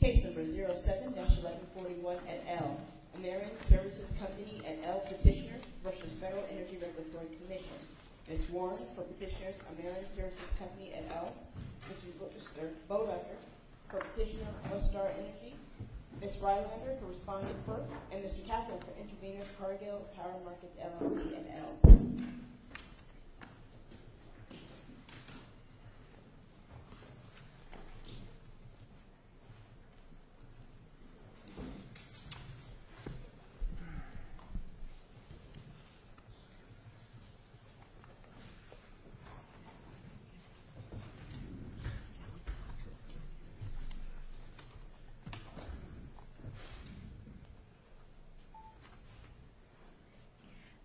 Case No. 07-1141, et al., Ameren Services Company, et al., Petitioners vs. Federal Energy Regulatory Commission Ms. Warren, for Petitioners, Ameren Services Company, et al. Mr. Boedeker, for Petitioners, One Star Energy Ms. Rylander, for Respondent FERC And Mr. Kaplan, for Intervenors, Cargill, Power Markets LLC, et al.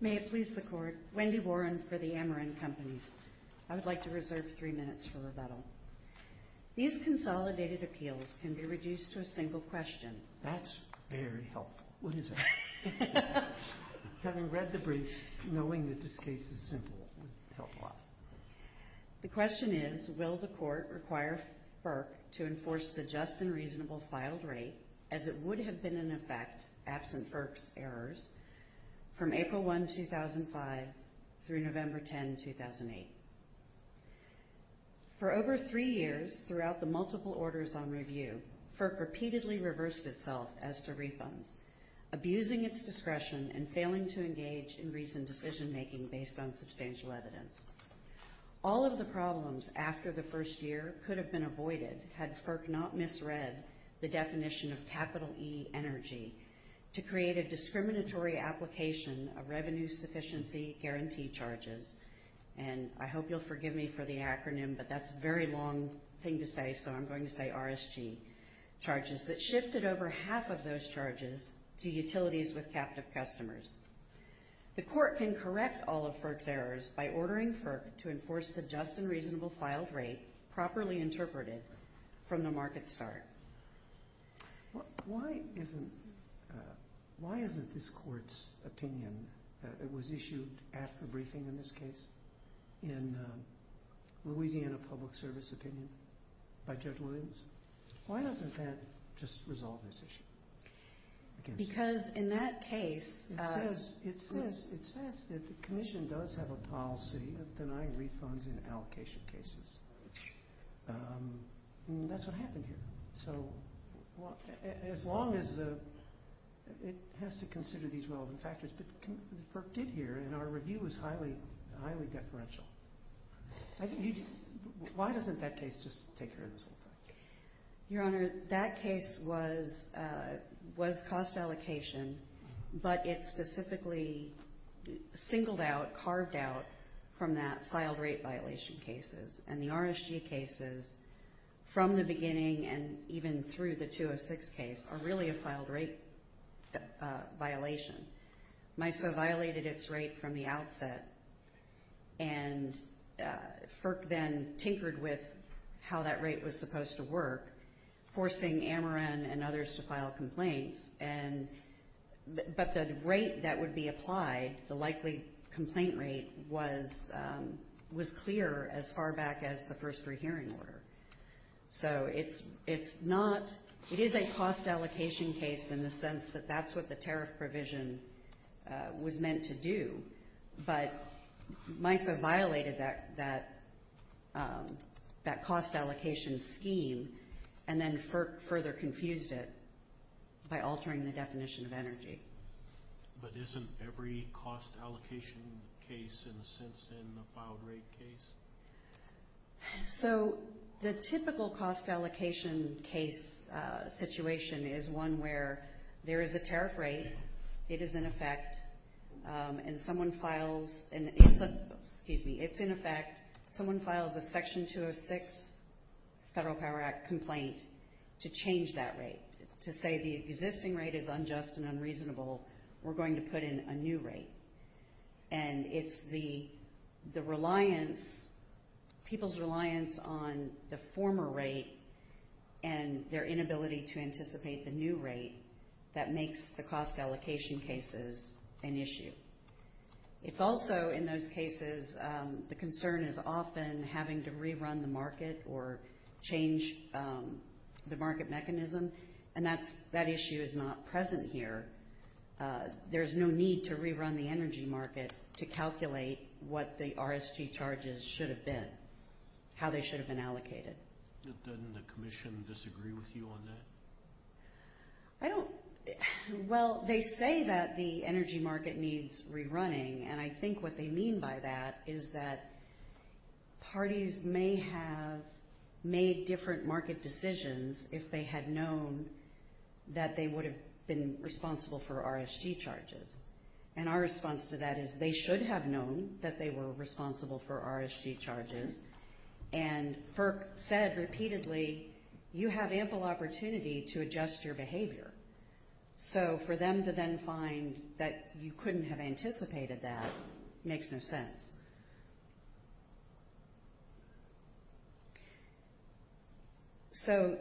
May it please the Court, Wendy Warren for the Ameren Companies. I would like to reserve three minutes for rebuttal. These consolidated appeals can be reduced to a single question. That's very helpful. Having read the briefs, knowing that this case is simple would help a lot. The question is, will the Court require FERC to enforce the just and reasonable filed rate, as it would have been in effect absent FERC's errors, from April 1, 2005 through November 10, 2008. For over three years throughout the multiple orders on review, FERC repeatedly reversed itself as to refunds, abusing its discretion and failing to engage in reasoned decision-making based on substantial evidence. All of the problems after the first year could have been avoided had FERC not misread the definition of capital E energy to create a discriminatory application of revenue sufficiency guarantee charges. And I hope you'll forgive me for the acronym, but that's a very long thing to say, so I'm going to say RSG charges that shifted over half of those charges to utilities with captive customers. The Court can correct all of FERC's errors by ordering FERC to enforce the just and reasonable filed rate properly interpreted from the market start. Why isn't this Court's opinion that it was issued after briefing in this case, in Louisiana Public Service opinion by Judge Williams? Why doesn't that just resolve this issue? Because in that case… It says that the Commission does have a policy of denying refunds in allocation cases, and that's what happened here. So as long as it has to consider these relevant factors, but FERC did here, and our review was highly deferential. Why doesn't that case just take care of this whole thing? Your Honor, that case was cost allocation, but it specifically singled out, carved out from that filed rate violation cases, and the RSG cases from the beginning and even through the 206 case are really a filed rate violation. MISO violated its rate from the outset, and FERC then tinkered with how that rate was supposed to work, forcing Ameren and others to file complaints, but the rate that would be applied, the likely complaint rate, was clear as far back as the first rehearing order. So it's not… It is a cost allocation case in the sense that that's what the tariff provision was meant to do, but MISO violated that cost allocation scheme and then further confused it by altering the definition of energy. But isn't every cost allocation case in a sense then a filed rate case? So the typical cost allocation case situation is one where there is a tariff rate, it is in effect, and someone files a Section 206 Federal Power Act complaint to change that rate, to say the existing rate is unjust and unreasonable, we're going to put in a new rate. And it's the reliance, people's reliance on the former rate and their inability to anticipate the new rate that makes the cost allocation cases an issue. It's also in those cases the concern is often having to rerun the market or change the market mechanism, and that issue is not present here. There's no need to rerun the energy market to calculate what the RSG charges should have been, how they should have been allocated. Doesn't the Commission disagree with you on that? I don't… Well, they say that the energy market needs rerunning, and I think what they mean by that is that parties may have made different market decisions if they had known that they would have been responsible for RSG charges. And our response to that is they should have known that they were responsible for RSG charges, and FERC said repeatedly, you have ample opportunity to adjust your behavior. So for them to then find that you couldn't have anticipated that makes no sense. So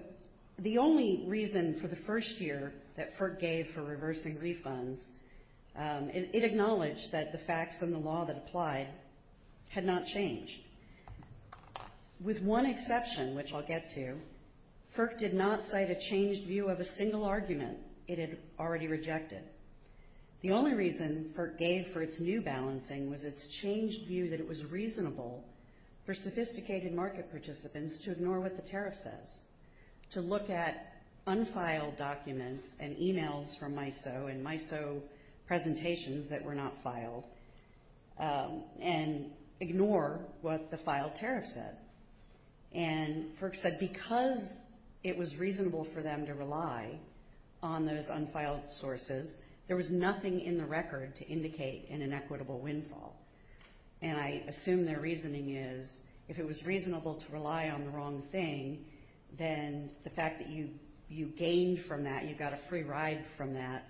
the only reason for the first year that FERC gave for reversing refunds, it acknowledged that the facts and the law that applied had not changed. With one exception, which I'll get to, FERC did not cite a changed view of a single argument it had already rejected. The only reason FERC gave for its new balancing was its changed view of the law was its changed view that it was reasonable for sophisticated market participants to ignore what the tariff says, to look at unfiled documents and emails from MISO and MISO presentations that were not filed, and ignore what the filed tariff said. And FERC said because it was reasonable for them to rely on those unfiled sources, there was nothing in the record to indicate an inequitable windfall. And I assume their reasoning is if it was reasonable to rely on the wrong thing, then the fact that you gained from that, you got a free ride from that,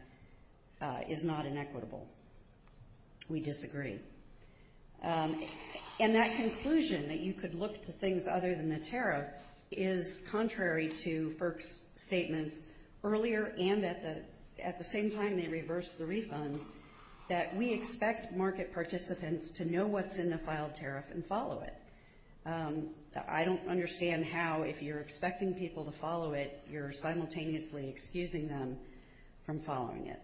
is not inequitable. We disagree. And that conclusion, that you could look to things other than the tariff, is contrary to FERC's statements earlier and at the same time they reversed the refunds, that we expect market participants to know what's in the filed tariff and follow it. I don't understand how, if you're expecting people to follow it, you're simultaneously excusing them from following it.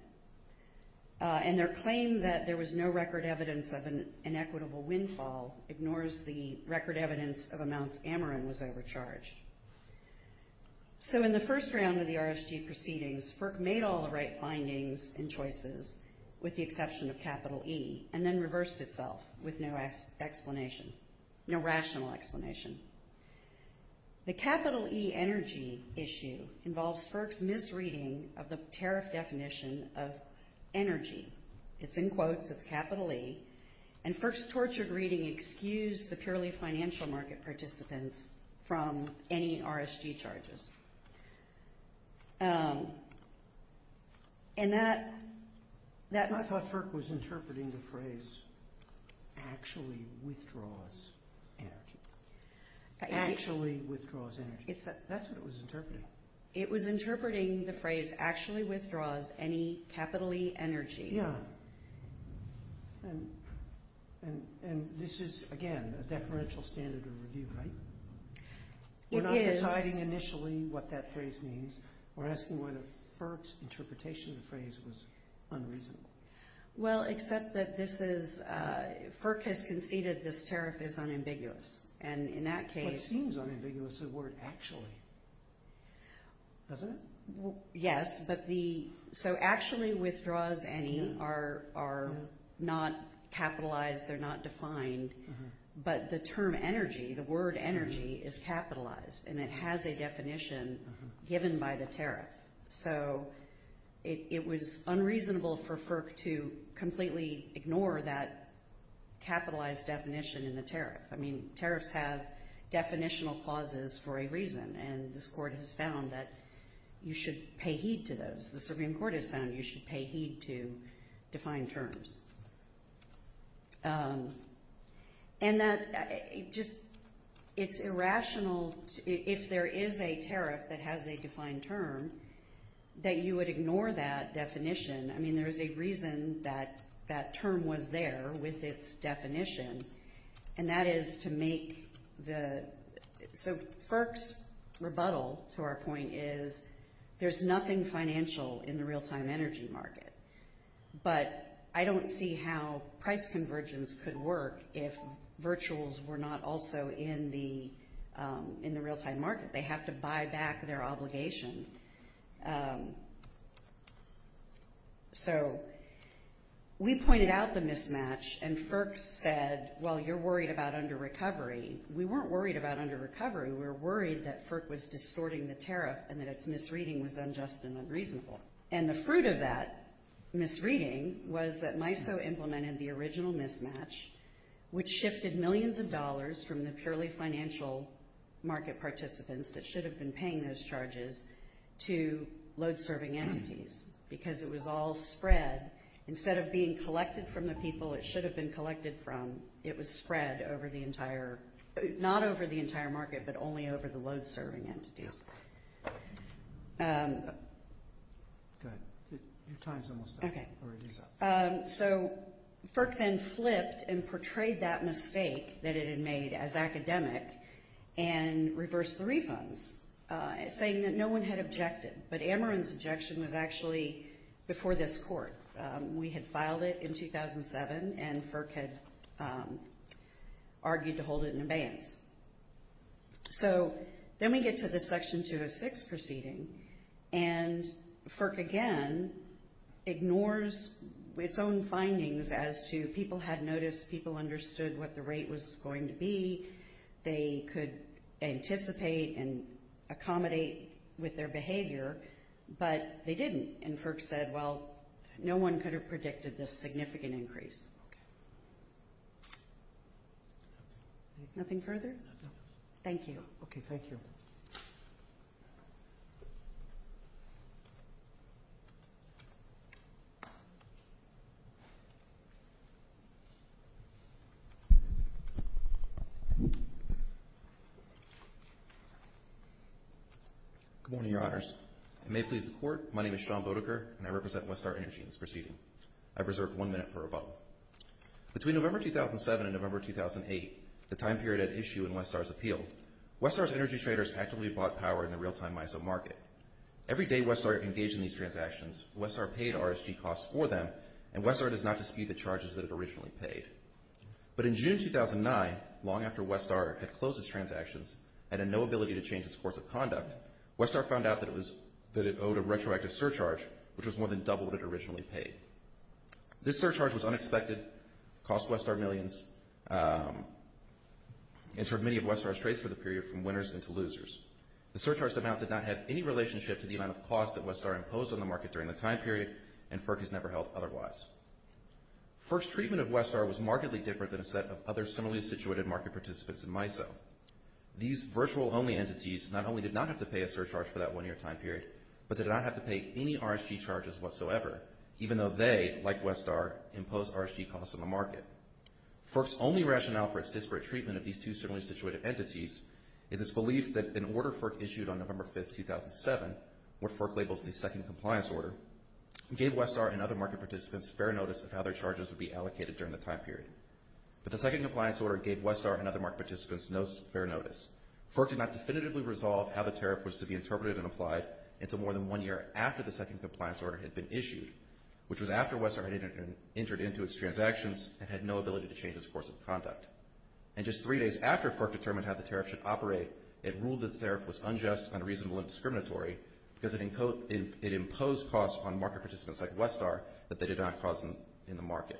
And their claim that there was no record evidence of an inequitable windfall ignores the record evidence of amounts Ameren was overcharged. So in the first round of the RSG proceedings, FERC made all the right findings and choices with the exception of capital E and then reversed itself with no rational explanation. The capital E energy issue involves FERC's misreading of the tariff definition of energy. It's in quotes. It's capital E. And FERC's tortured reading excused the purely financial market participants from any RSG charges. And that- I thought FERC was interpreting the phrase, actually withdraws energy. Actually withdraws energy. That's what it was interpreting. It was interpreting the phrase, actually withdraws any capital E energy. Yeah. And this is, again, a deferential standard of review, right? It is. We're not deciding initially what that phrase means. We're asking whether FERC's interpretation of the phrase was unreasonable. Well, except that this is- FERC has conceded this tariff is unambiguous. And in that case- But it seems unambiguous, the word actually. Doesn't it? Yes, but the- So actually withdraws any are not capitalized. They're not defined. But the term energy, the word energy, is capitalized. And it has a definition given by the tariff. So it was unreasonable for FERC to completely ignore that capitalized definition in the tariff. I mean, tariffs have definitional clauses for a reason. And this Court has found that you should pay heed to those. The Supreme Court has found you should pay heed to defined terms. And that just it's irrational, if there is a tariff that has a defined term, that you would ignore that definition. I mean, there is a reason that that term was there with its definition. And that is to make the- So FERC's rebuttal to our point is there's nothing financial in the real-time energy market. But I don't see how price convergence could work if virtuals were not also in the real-time market. They have to buy back their obligation. So we pointed out the mismatch, and FERC said, well, you're worried about under-recovery. We weren't worried about under-recovery. We were worried that FERC was distorting the tariff and that its misreading was unjust and unreasonable. And the fruit of that misreading was that MISO implemented the original mismatch, which shifted millions of dollars from the purely financial market participants that should have been paying those charges to load-serving entities. Because it was all spread. Instead of being collected from the people it should have been collected from, it was spread over the entire- not over the entire market, but only over the load-serving entities. Go ahead. Your time's almost up. Okay. Or it is up. So FERC then flipped and portrayed that mistake that it had made as academic and reversed the refunds, saying that no one had objected, but Ameren's objection was actually before this court. We had filed it in 2007, and FERC had argued to hold it in abeyance. So then we get to the Section 206 proceeding, and FERC again ignores its own findings as to people had noticed, people understood what the rate was going to be, they could anticipate and accommodate with their behavior, but they didn't. And FERC said, well, no one could have predicted this significant increase. Okay. Nothing further? No. Thank you. Okay, thank you. Good morning, Your Honors. It may please the Court, my name is Sean Bodeker, and I represent Westar Energy in this proceeding. I've reserved one minute for rebuttal. Between November 2007 and November 2008, the time period at issue in Westar's appeal, Westar's energy traders actively bought power in the real-time ISO market. Every day Westar engaged in these transactions, Westar paid RSG costs for them, and Westar does not dispute the charges that it originally paid. But in June 2009, long after Westar had closed its transactions and had no ability to change its course of conduct, Westar found out that it owed a retroactive surcharge, which was more than double what it originally paid. This surcharge was unexpected, cost Westar millions, and served many of Westar's trades for the period from winners into losers. The surcharged amount did not have any relationship to the amount of costs that Westar imposed on the market during the time period, and FERC has never held otherwise. First treatment of Westar was markedly different than a set of other similarly situated market participants in MISO. These virtual-only entities not only did not have to pay a surcharge for that one-year time period, but did not have to pay any RSG charges whatsoever, even though they, like Westar, imposed RSG costs on the market. FERC's only rationale for its disparate treatment of these two similarly situated entities is its belief that an order FERC issued on November 5, 2007, what FERC labels the second compliance order, gave Westar and other market participants fair notice of how their charges would be allocated during the time period. But the second compliance order gave Westar and other market participants no fair notice. FERC did not definitively resolve how the tariff was to be interpreted and applied until more than one year after the second compliance order had been issued, which was after Westar had entered into its transactions and had no ability to change its course of conduct. And just three days after FERC determined how the tariff should operate, it ruled that the tariff was unjust, unreasonable, and discriminatory because it imposed costs on market participants like Westar that they did not cause in the market.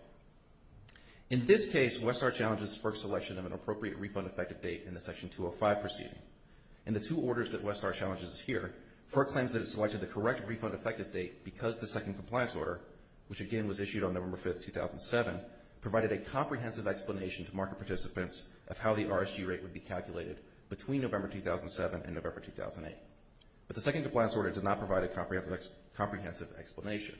In this case, Westar challenges FERC's selection of an appropriate refund effective date in the Section 205 proceeding. In the two orders that Westar challenges here, FERC claims that it selected the correct refund effective date because the second compliance order, which again was issued on November 5, 2007, provided a comprehensive explanation to market participants of how the RSG rate would be calculated between November 2007 and November 2008. But the second compliance order did not provide a comprehensive explanation.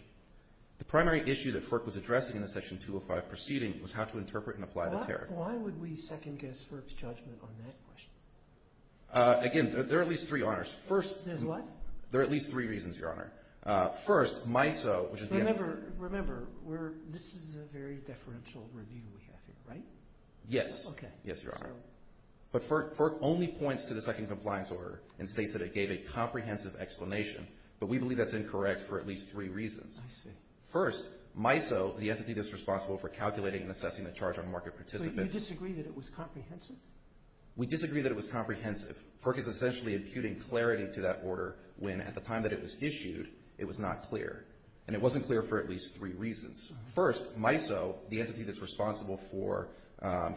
The primary issue that FERC was addressing in the Section 205 proceeding was how to interpret and apply the tariff. Why would we second-guess FERC's judgment on that question? Again, there are at least three honors. There's what? There are at least three reasons, Your Honor. First, MISO, which is the entity. Remember, this is a very deferential review we have here, right? Yes. Okay. Yes, Your Honor. But FERC only points to the second compliance order and states that it gave a comprehensive explanation, but we believe that's incorrect for at least three reasons. I see. First, MISO, the entity that's responsible for calculating and assessing the charge on market participants. But you disagree that it was comprehensive? We disagree that it was comprehensive. FERC is essentially imputing clarity to that order when at the time that it was issued it was not clear, and it wasn't clear for at least three reasons. First, MISO, the entity that's responsible for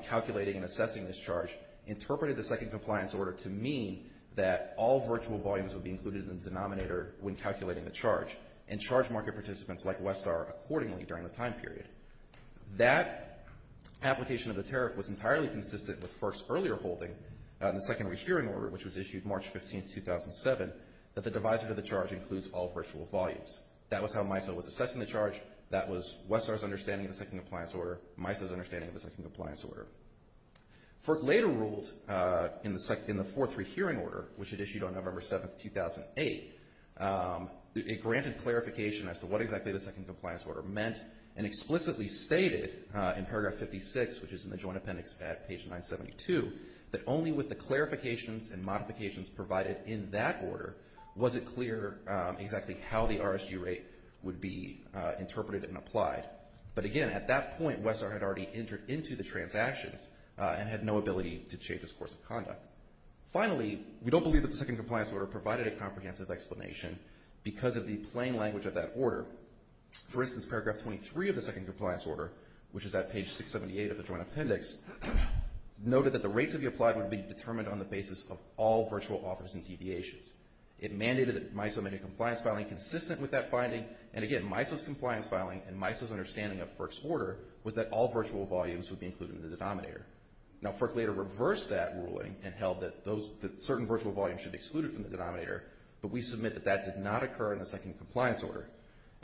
calculating and assessing this charge, interpreted the second compliance order to mean that all virtual volumes would be included in the denominator when calculating the charge and charge market participants like Westar accordingly during the time period. That application of the tariff was entirely consistent with FERC's earlier holding in the secondary hearing order, which was issued March 15, 2007, that the divisor to the charge includes all virtual volumes. That was how MISO was assessing the charge. That was Westar's understanding of the second compliance order, MISO's understanding of the second compliance order. FERC later ruled in the 4.3 hearing order, which it issued on November 7, 2008, it granted clarification as to what exactly the second compliance order meant and explicitly stated in paragraph 56, which is in the joint appendix at page 972, that only with the clarifications and modifications provided in that order was it clear exactly how the RRG rate would be interpreted and applied. But again, at that point, Westar had already entered into the transactions and had no ability to change its course of conduct. Finally, we don't believe that the second compliance order provided a comprehensive explanation because of the plain language of that order. For instance, paragraph 23 of the second compliance order, which is at page 678 of the joint appendix, noted that the rates to be applied would be determined on the basis of all virtual offers and deviations. It mandated that MISO make a compliance filing consistent with that finding, and again, MISO's compliance filing and MISO's understanding of FERC's order was that all virtual volumes would be included in the denominator. Now, FERC later reversed that ruling and held that certain virtual volumes should be excluded from the denominator, but we submit that that did not occur in the second compliance order.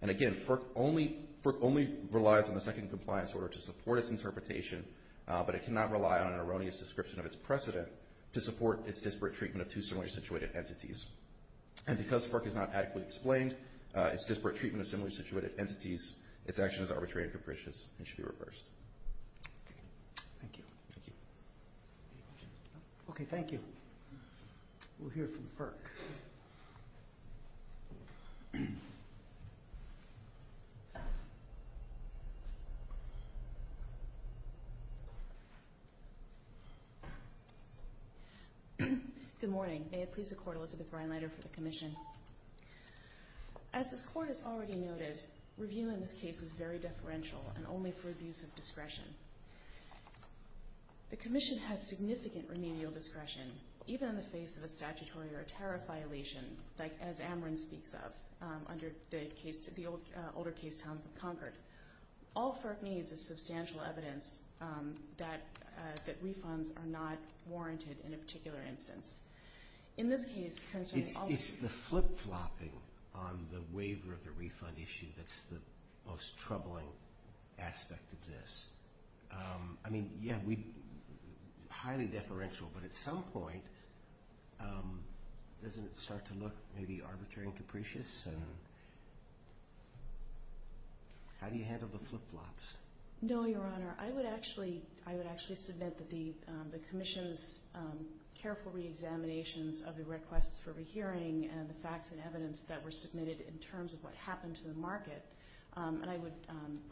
And again, FERC only relies on the second compliance order to support its interpretation, but it cannot rely on an erroneous description of its precedent to support its disparate treatment of two similarly situated entities. And because FERC is not adequately explained, its disparate treatment of similarly situated entities, its action is arbitrary and capricious and should be reversed. Thank you. Okay, thank you. We'll hear from FERC. Good morning. May it please the Court, Elizabeth Reinleiter for the Commission. As this Court has already noted, review in this case is very deferential and only for abuse of discretion. The Commission has significant remedial discretion, even in the face of a statutory or a tariff-like violation. and the Court has the authority to review the case, like as Amrin speaks of, under the older case Towns of Concord. All FERC needs is substantial evidence that refunds are not warranted in a particular instance. It's the flip-flopping on the waiver of the refund issue that's the most troubling aspect of this. I mean, yeah, highly deferential, but at some point, doesn't it start to look maybe arbitrary and capricious? How do you handle the flip-flops? No, Your Honor. I would actually submit that the Commission's careful reexaminations of the requests for rehearing and the facts and evidence that were submitted in terms of what happened to the market, and I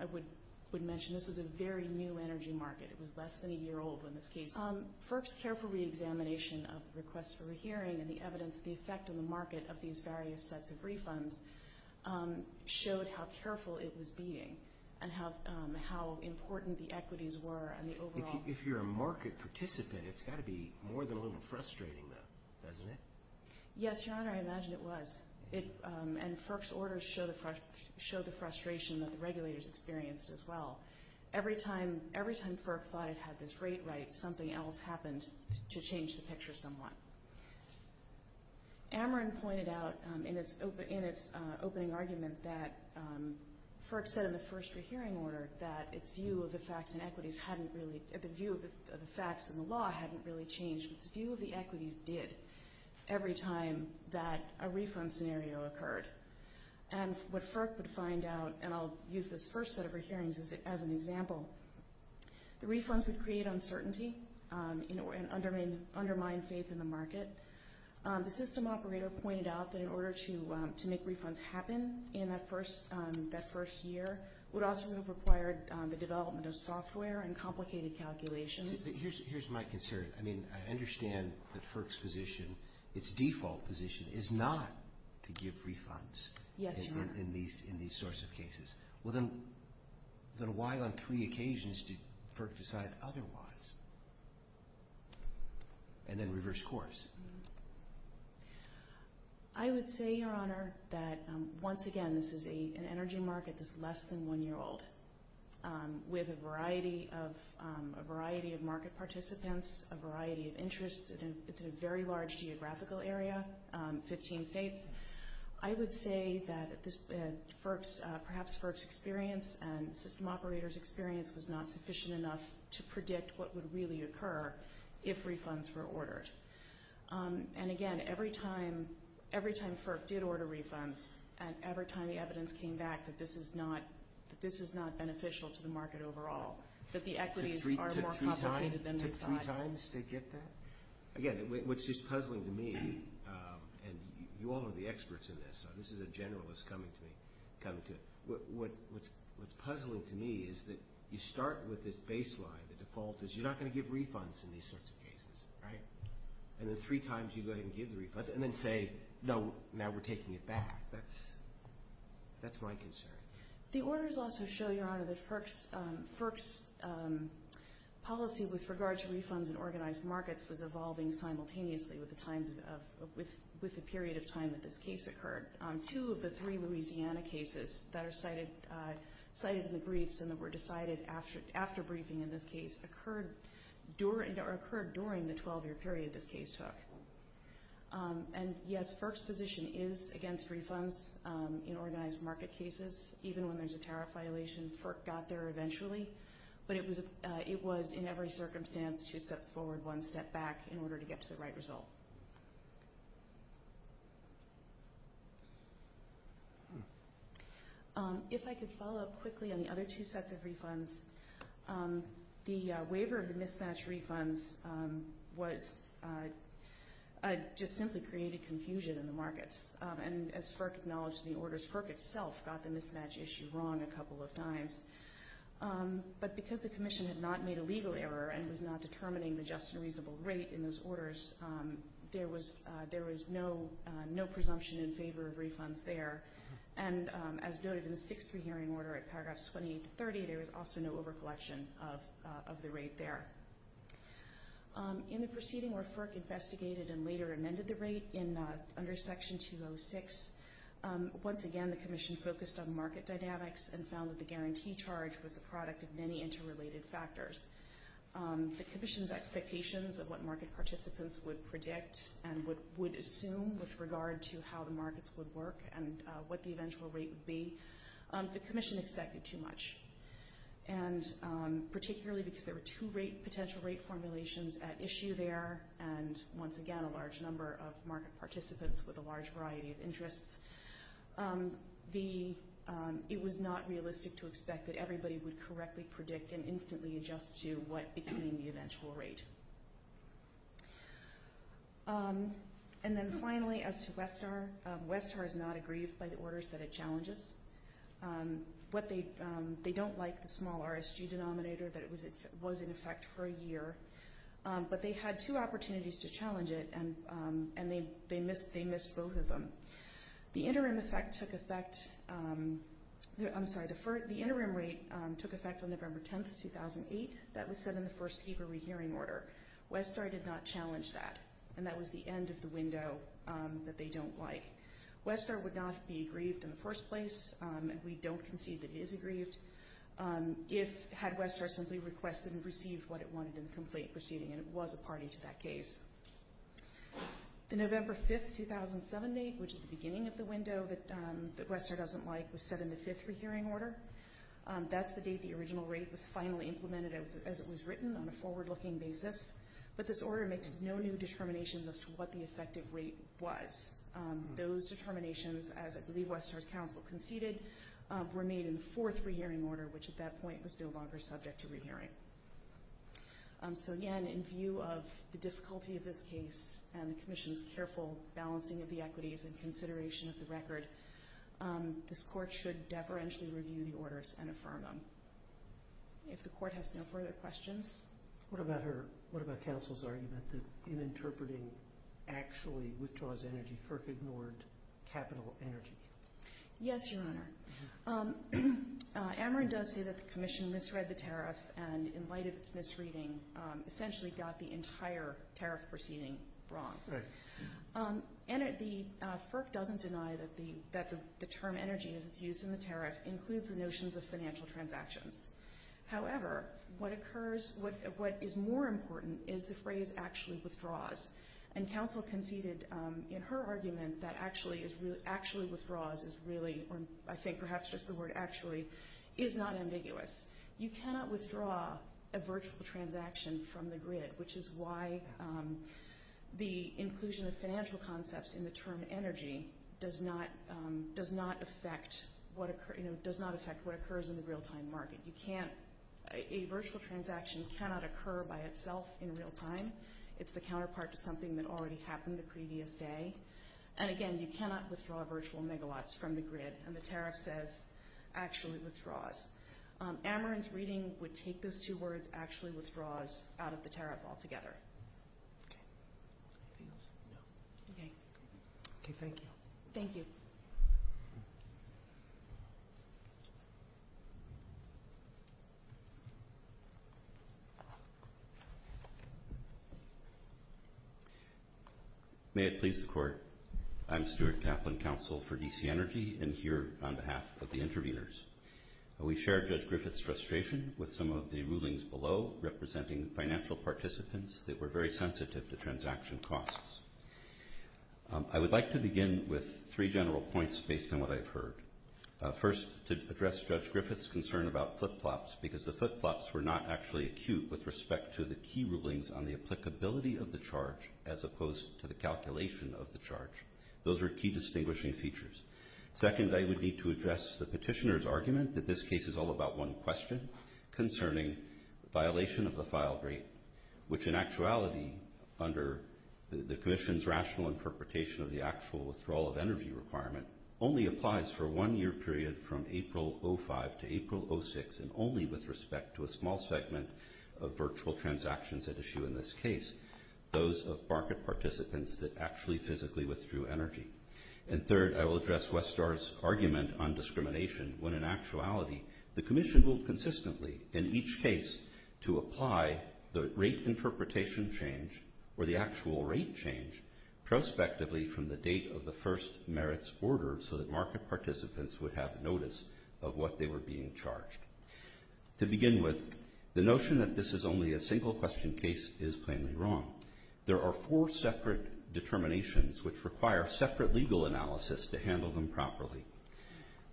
would mention this is a very new energy market. It was less than a year old in this case. FERC's careful reexamination of requests for rehearing and the evidence of the effect on the market of these various sets of refunds showed how careful it was being and how important the equities were and the overall... If you're a market participant, it's got to be more than a little frustrating, though, doesn't it? Yes, Your Honor, I imagine it was. And FERC's orders show the frustration that the regulators experienced as well. Every time FERC thought it had this rate right, something else happened to change the picture somewhat. Ameren pointed out in its opening argument that FERC said in the first rehearing order that its view of the facts and equities hadn't really... The view of the facts and the law hadn't really changed, but its view of the equities did every time that a refund scenario occurred. And what FERC would find out, and I'll use this first set of rehearings as an example, the refunds would create uncertainty and undermine faith in the market. The system operator pointed out that in order to make refunds happen in that first year would also have required the development of software and complicated calculations. Here's my concern. I mean, I understand that FERC's position, its default position, is not to give refunds... Yes, Your Honor. ...in these sorts of cases. Well, then, why on three occasions did FERC decide otherwise? And then reverse course. I would say, Your Honor, that once again this is an energy market that's less than one year old with a variety of market participants, a variety of interests. It's a very large geographical area, 15 states. I would say that perhaps FERC's experience and system operator's experience was not sufficient enough to predict what would really occur if refunds were ordered. And again, every time FERC did order refunds and every time the evidence came back that this is not beneficial to the market overall, that the equities are more complicated than they thought. Took three times to get that? Again, what's just puzzling to me, and you all are the experts in this, so this is a generalist coming to me, what's puzzling to me is that you start with this baseline, the default is you're not going to give refunds in these sorts of cases, right? And then three times you go ahead and give the refunds and then say, no, now we're taking it back. That's my concern. The orders also show, Your Honor, that FERC's policy with regard to refunds in organized markets was evolving simultaneously with the period of time that this case occurred. Two of the three Louisiana cases that are cited in the briefs and that were decided after briefing in this case occurred during the 12-year period this case took. And yes, FERC's position is against refunds in organized market cases, even when there's a tariff violation, FERC got there eventually, but it was in every circumstance two steps forward, one step back in order to get to the right result. If I could follow up quickly on the other two sets of refunds, the waiver of the mismatch refunds just simply created confusion in the markets, and as FERC acknowledged in the orders, FERC itself got the mismatch issue wrong a couple of times, but because the Commission had not made a legal error and was not determining the just and reasonable rate in those orders, there was no presumption in favor of refunds there, and as noted in the 6-3 hearing order at paragraphs 28-30, there was also no overcollection of the rate there. In the proceeding where FERC investigated and later amended the rate under Section 206, once again the Commission focused on market dynamics and found that the guarantee charge was the product of many interrelated factors. The Commission's expectations of what market participants would predict and would assume with regard to how the markets would work and what the eventual rate would be, the Commission expected too much, and particularly because there were two potential rate formulations at issue there, and once again a large number of market participants with a large variety of interests. It was not realistic to expect that everybody would correctly predict and instantly adjust to what became the eventual rate. And then finally as to Westar, Westar is not aggrieved by the orders that it challenges. They don't like the small RSG denominator that it was in effect for a year, but they had two opportunities to challenge it and they missed both of them. The interim rate took effect on November 10, 2008. That was set in the first paper rehearing order. Westar did not challenge that, and that was the end of the window that they don't like. Westar would not be aggrieved in the first place, and we don't concede that it is aggrieved, had Westar simply requested and received what it wanted in the complaint proceeding, and it was a party to that case. The November 5, 2007 date, which is the beginning of the window that Westar doesn't like, was set in the fifth rehearing order. That's the date the original rate was finally implemented as it was written on a forward-looking basis, but this order makes no new determinations as to what the effective rate was. Those determinations, as I believe Westar's counsel conceded, were made in the fourth rehearing order, which at that point was no longer subject to rehearing. So again, in view of the difficulty of this case and the Commission's careful balancing of the equities and consideration of the record, this Court should deferentially review the orders and affirm them. If the Court has no further questions... What about counsel's argument that in interpreting actually withdraws energy, FERC ignored capital energy? Yes, Your Honor. Ameren does say that the Commission misread the tariff and, in light of its misreading, essentially got the entire tariff proceeding wrong. Right. And FERC doesn't deny that the term energy, as it's used in the tariff, includes the notions of financial transactions. However, what is more important is the phrase actually withdraws, and counsel conceded in her argument that actually withdraws is really, or I think perhaps just the word actually, is not ambiguous. You cannot withdraw a virtual transaction from the grid, which is why the inclusion of financial concepts in the term energy does not affect what occurs in the real-time market. A virtual transaction cannot occur by itself in real time. It's the counterpart to something that already happened the previous day. And again, you cannot withdraw virtual megawatts from the grid, and the tariff says actually withdraws. Ameren's reading would take those two words, actually withdraws, out of the tariff altogether. Okay. Okay, thank you. Thank you. May it please the Court, I'm Stuart Kaplan, counsel for DC Energy, and here on behalf of the interveners. We share Judge Griffith's frustration with some of the rulings below representing financial participants that were very sensitive to transaction costs. I would like to begin with three general points based on what I've heard. First, to address Judge Griffith's concern about flip-flops, because the flip-flops were not actually acute with respect to the key rulings on the applicability of the charge as opposed to the calculation of the charge. Those are key distinguishing features. Second, I would need to address the petitioner's argument that this case is all about one question concerning violation of the file rate, which in actuality under the Commission's rational interpretation of the actual withdrawal of energy requirement only applies for one year period from April 2005 to April 2006, and only with respect to a small segment of virtual transactions at issue in this case, those of market participants that actually physically withdrew energy. And third, I will address Westar's argument on discrimination when in actuality the Commission ruled consistently in each case to apply the rate interpretation change or the actual rate change prospectively from the date of the first merits order so that market participants would have notice of what they were being charged. To begin with, the notion that this is only a single-question case is plainly wrong. There are four separate determinations which require separate legal analysis to handle them properly.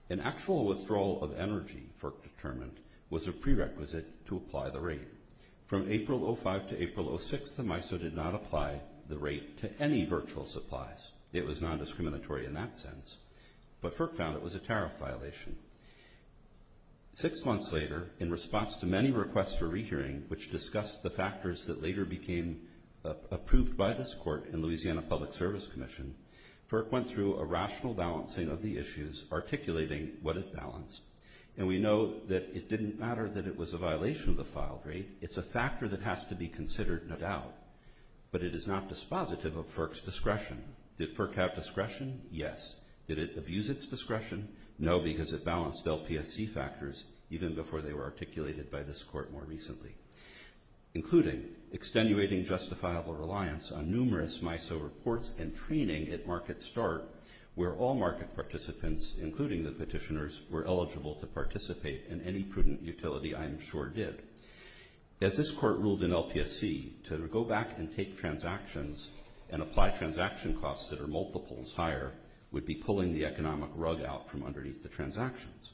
An actual withdrawal of energy, Firk determined, was a prerequisite to apply the rate. From April 2005 to April 2006, the MISO did not apply the rate to any virtual supplies. It was nondiscriminatory in that sense. But Firk found it was a tariff violation. Six months later, in response to many requests for rehearing which discussed the factors that later became approved by this court and Louisiana Public Service Commission, Firk went through a rational balancing of the issues, articulating what it balanced. And we know that it didn't matter that it was a violation of the filed rate. It's a factor that has to be considered, no doubt. But it is not dispositive of Firk's discretion. Did Firk have discretion? Yes. Did it abuse its discretion? No, because it balanced LPSC factors even before they were articulated by this court more recently, including extenuating justifiable reliance on numerous MISO reports and training at market start, where all market participants, including the petitioners, were eligible to participate in any prudent utility I am sure did. As this court ruled in LPSC, to go back and take transactions and apply transaction costs that are multiples higher would be pulling the economic rug out from underneath the transactions.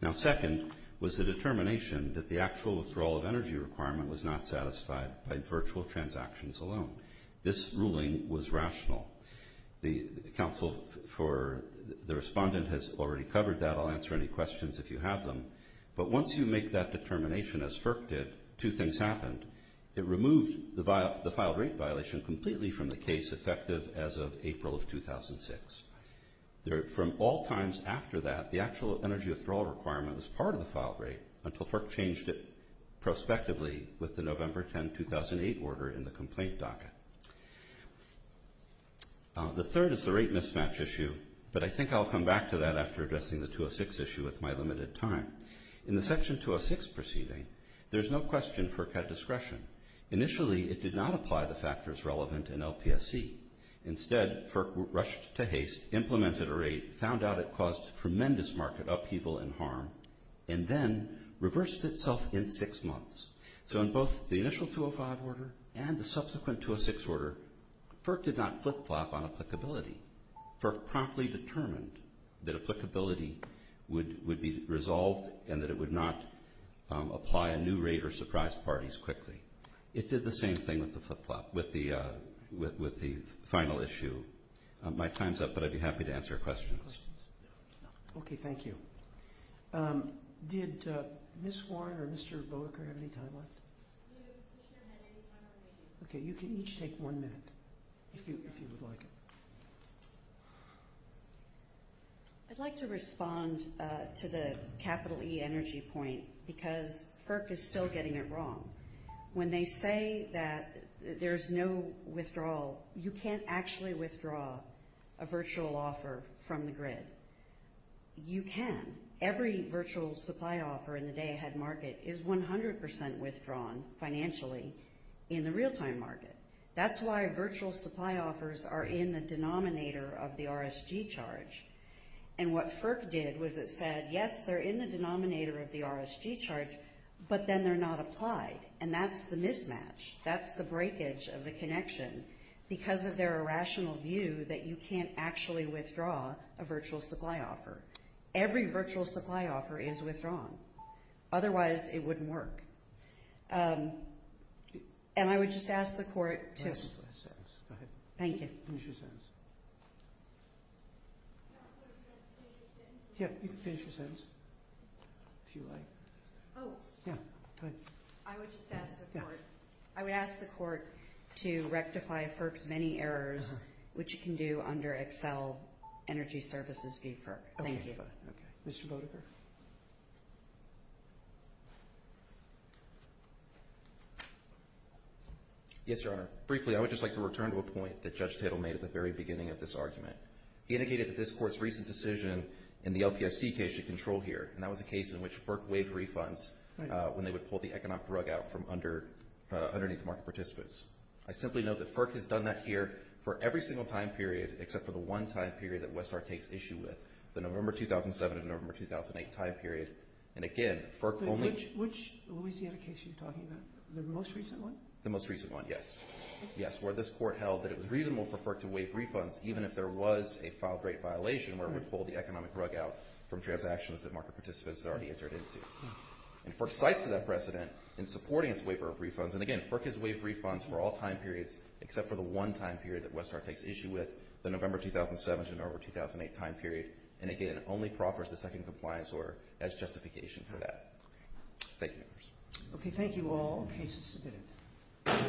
Now, second was the determination that the actual withdrawal of energy requirement was not satisfied by virtual transactions alone. This ruling was rational. The counsel for the respondent has already covered that. I'll answer any questions if you have them. But once you make that determination, as Firk did, two things happened. It removed the filed rate violation completely from the case, effective as of April of 2006. From all times after that, the actual energy withdrawal requirement was part of the filed rate until Firk changed it prospectively with the November 10, 2008 order in the complaint docket. The third is the rate mismatch issue, but I think I'll come back to that after addressing the 206 issue with my limited time. In the Section 206 proceeding, there's no question Firk had discretion. Initially, it did not apply the factors relevant in LPSC. Instead, Firk rushed to haste, implemented a rate, found out it caused tremendous market upheaval and harm, and then reversed itself in six months. So in both the initial 205 order and the subsequent 206 order, Firk did not flip-flop on applicability. Firk promptly determined that applicability would be resolved and that it would not apply a new rate or surprise parties quickly. It did the same thing with the flip-flop, with the final issue. My time's up, but I'd be happy to answer questions. Okay, thank you. Did Ms. Warren or Mr. Bowker have any time left? Okay, you can each take one minute, if you would like. I'd like to respond to the capital E energy point because Firk is still getting it wrong. When they say that there's no withdrawal, you can't actually withdraw a virtual offer from the grid. You can. Every virtual supply offer in the day ahead market is 100% withdrawn financially in the real-time market. That's why virtual supply offers are in the denominator of the RSG charge. And what Firk did was it said, yes, they're in the denominator of the RSG charge, but then they're not applied, and that's the mismatch. That's the breakage of the connection because of their irrational view that you can't actually withdraw a virtual supply offer. Every virtual supply offer is withdrawn. Otherwise, it wouldn't work. And I would just ask the Court to... Go ahead. Thank you. Finish your sentence. Yeah, you can finish your sentence, if you like. Oh. Yeah, go ahead. I would just ask the Court... Yeah. I would ask the Court to rectify Firk's many errors, which it can do under Excel Energy Services v. Firk. Thank you. Okay, fine. Mr. Bodeker. Yes, Your Honor. Briefly, I would just like to return to a point that Judge Tittle made at the very beginning of this argument. He indicated that this Court's recent decision in the LPSC case should control here, and that was a case in which Firk waived refunds when they would pull the economic rug out from underneath the market participants. I simply note that Firk has done that here for every single time period except for the one time period that Westar takes issue with, the November 2007 and November 2008 time period. And again, Firk only... Which Louisiana case are you talking about? The most recent one? The most recent one, yes. Yes, where this Court held that it was reasonable for Firk to waive refunds even if there was a filed rate violation where it would pull the economic rug out from transactions that market participants had already entered into. And Firk cites that precedent in supporting its waiver of refunds. And again, Firk has waived refunds for all time periods except for the one time period that Westar takes issue with, the November 2007 to November 2008 time period. And again, only proffers the second compliance order as justification for that. Thank you, Your Honor. Okay, thank you all. Case is submitted.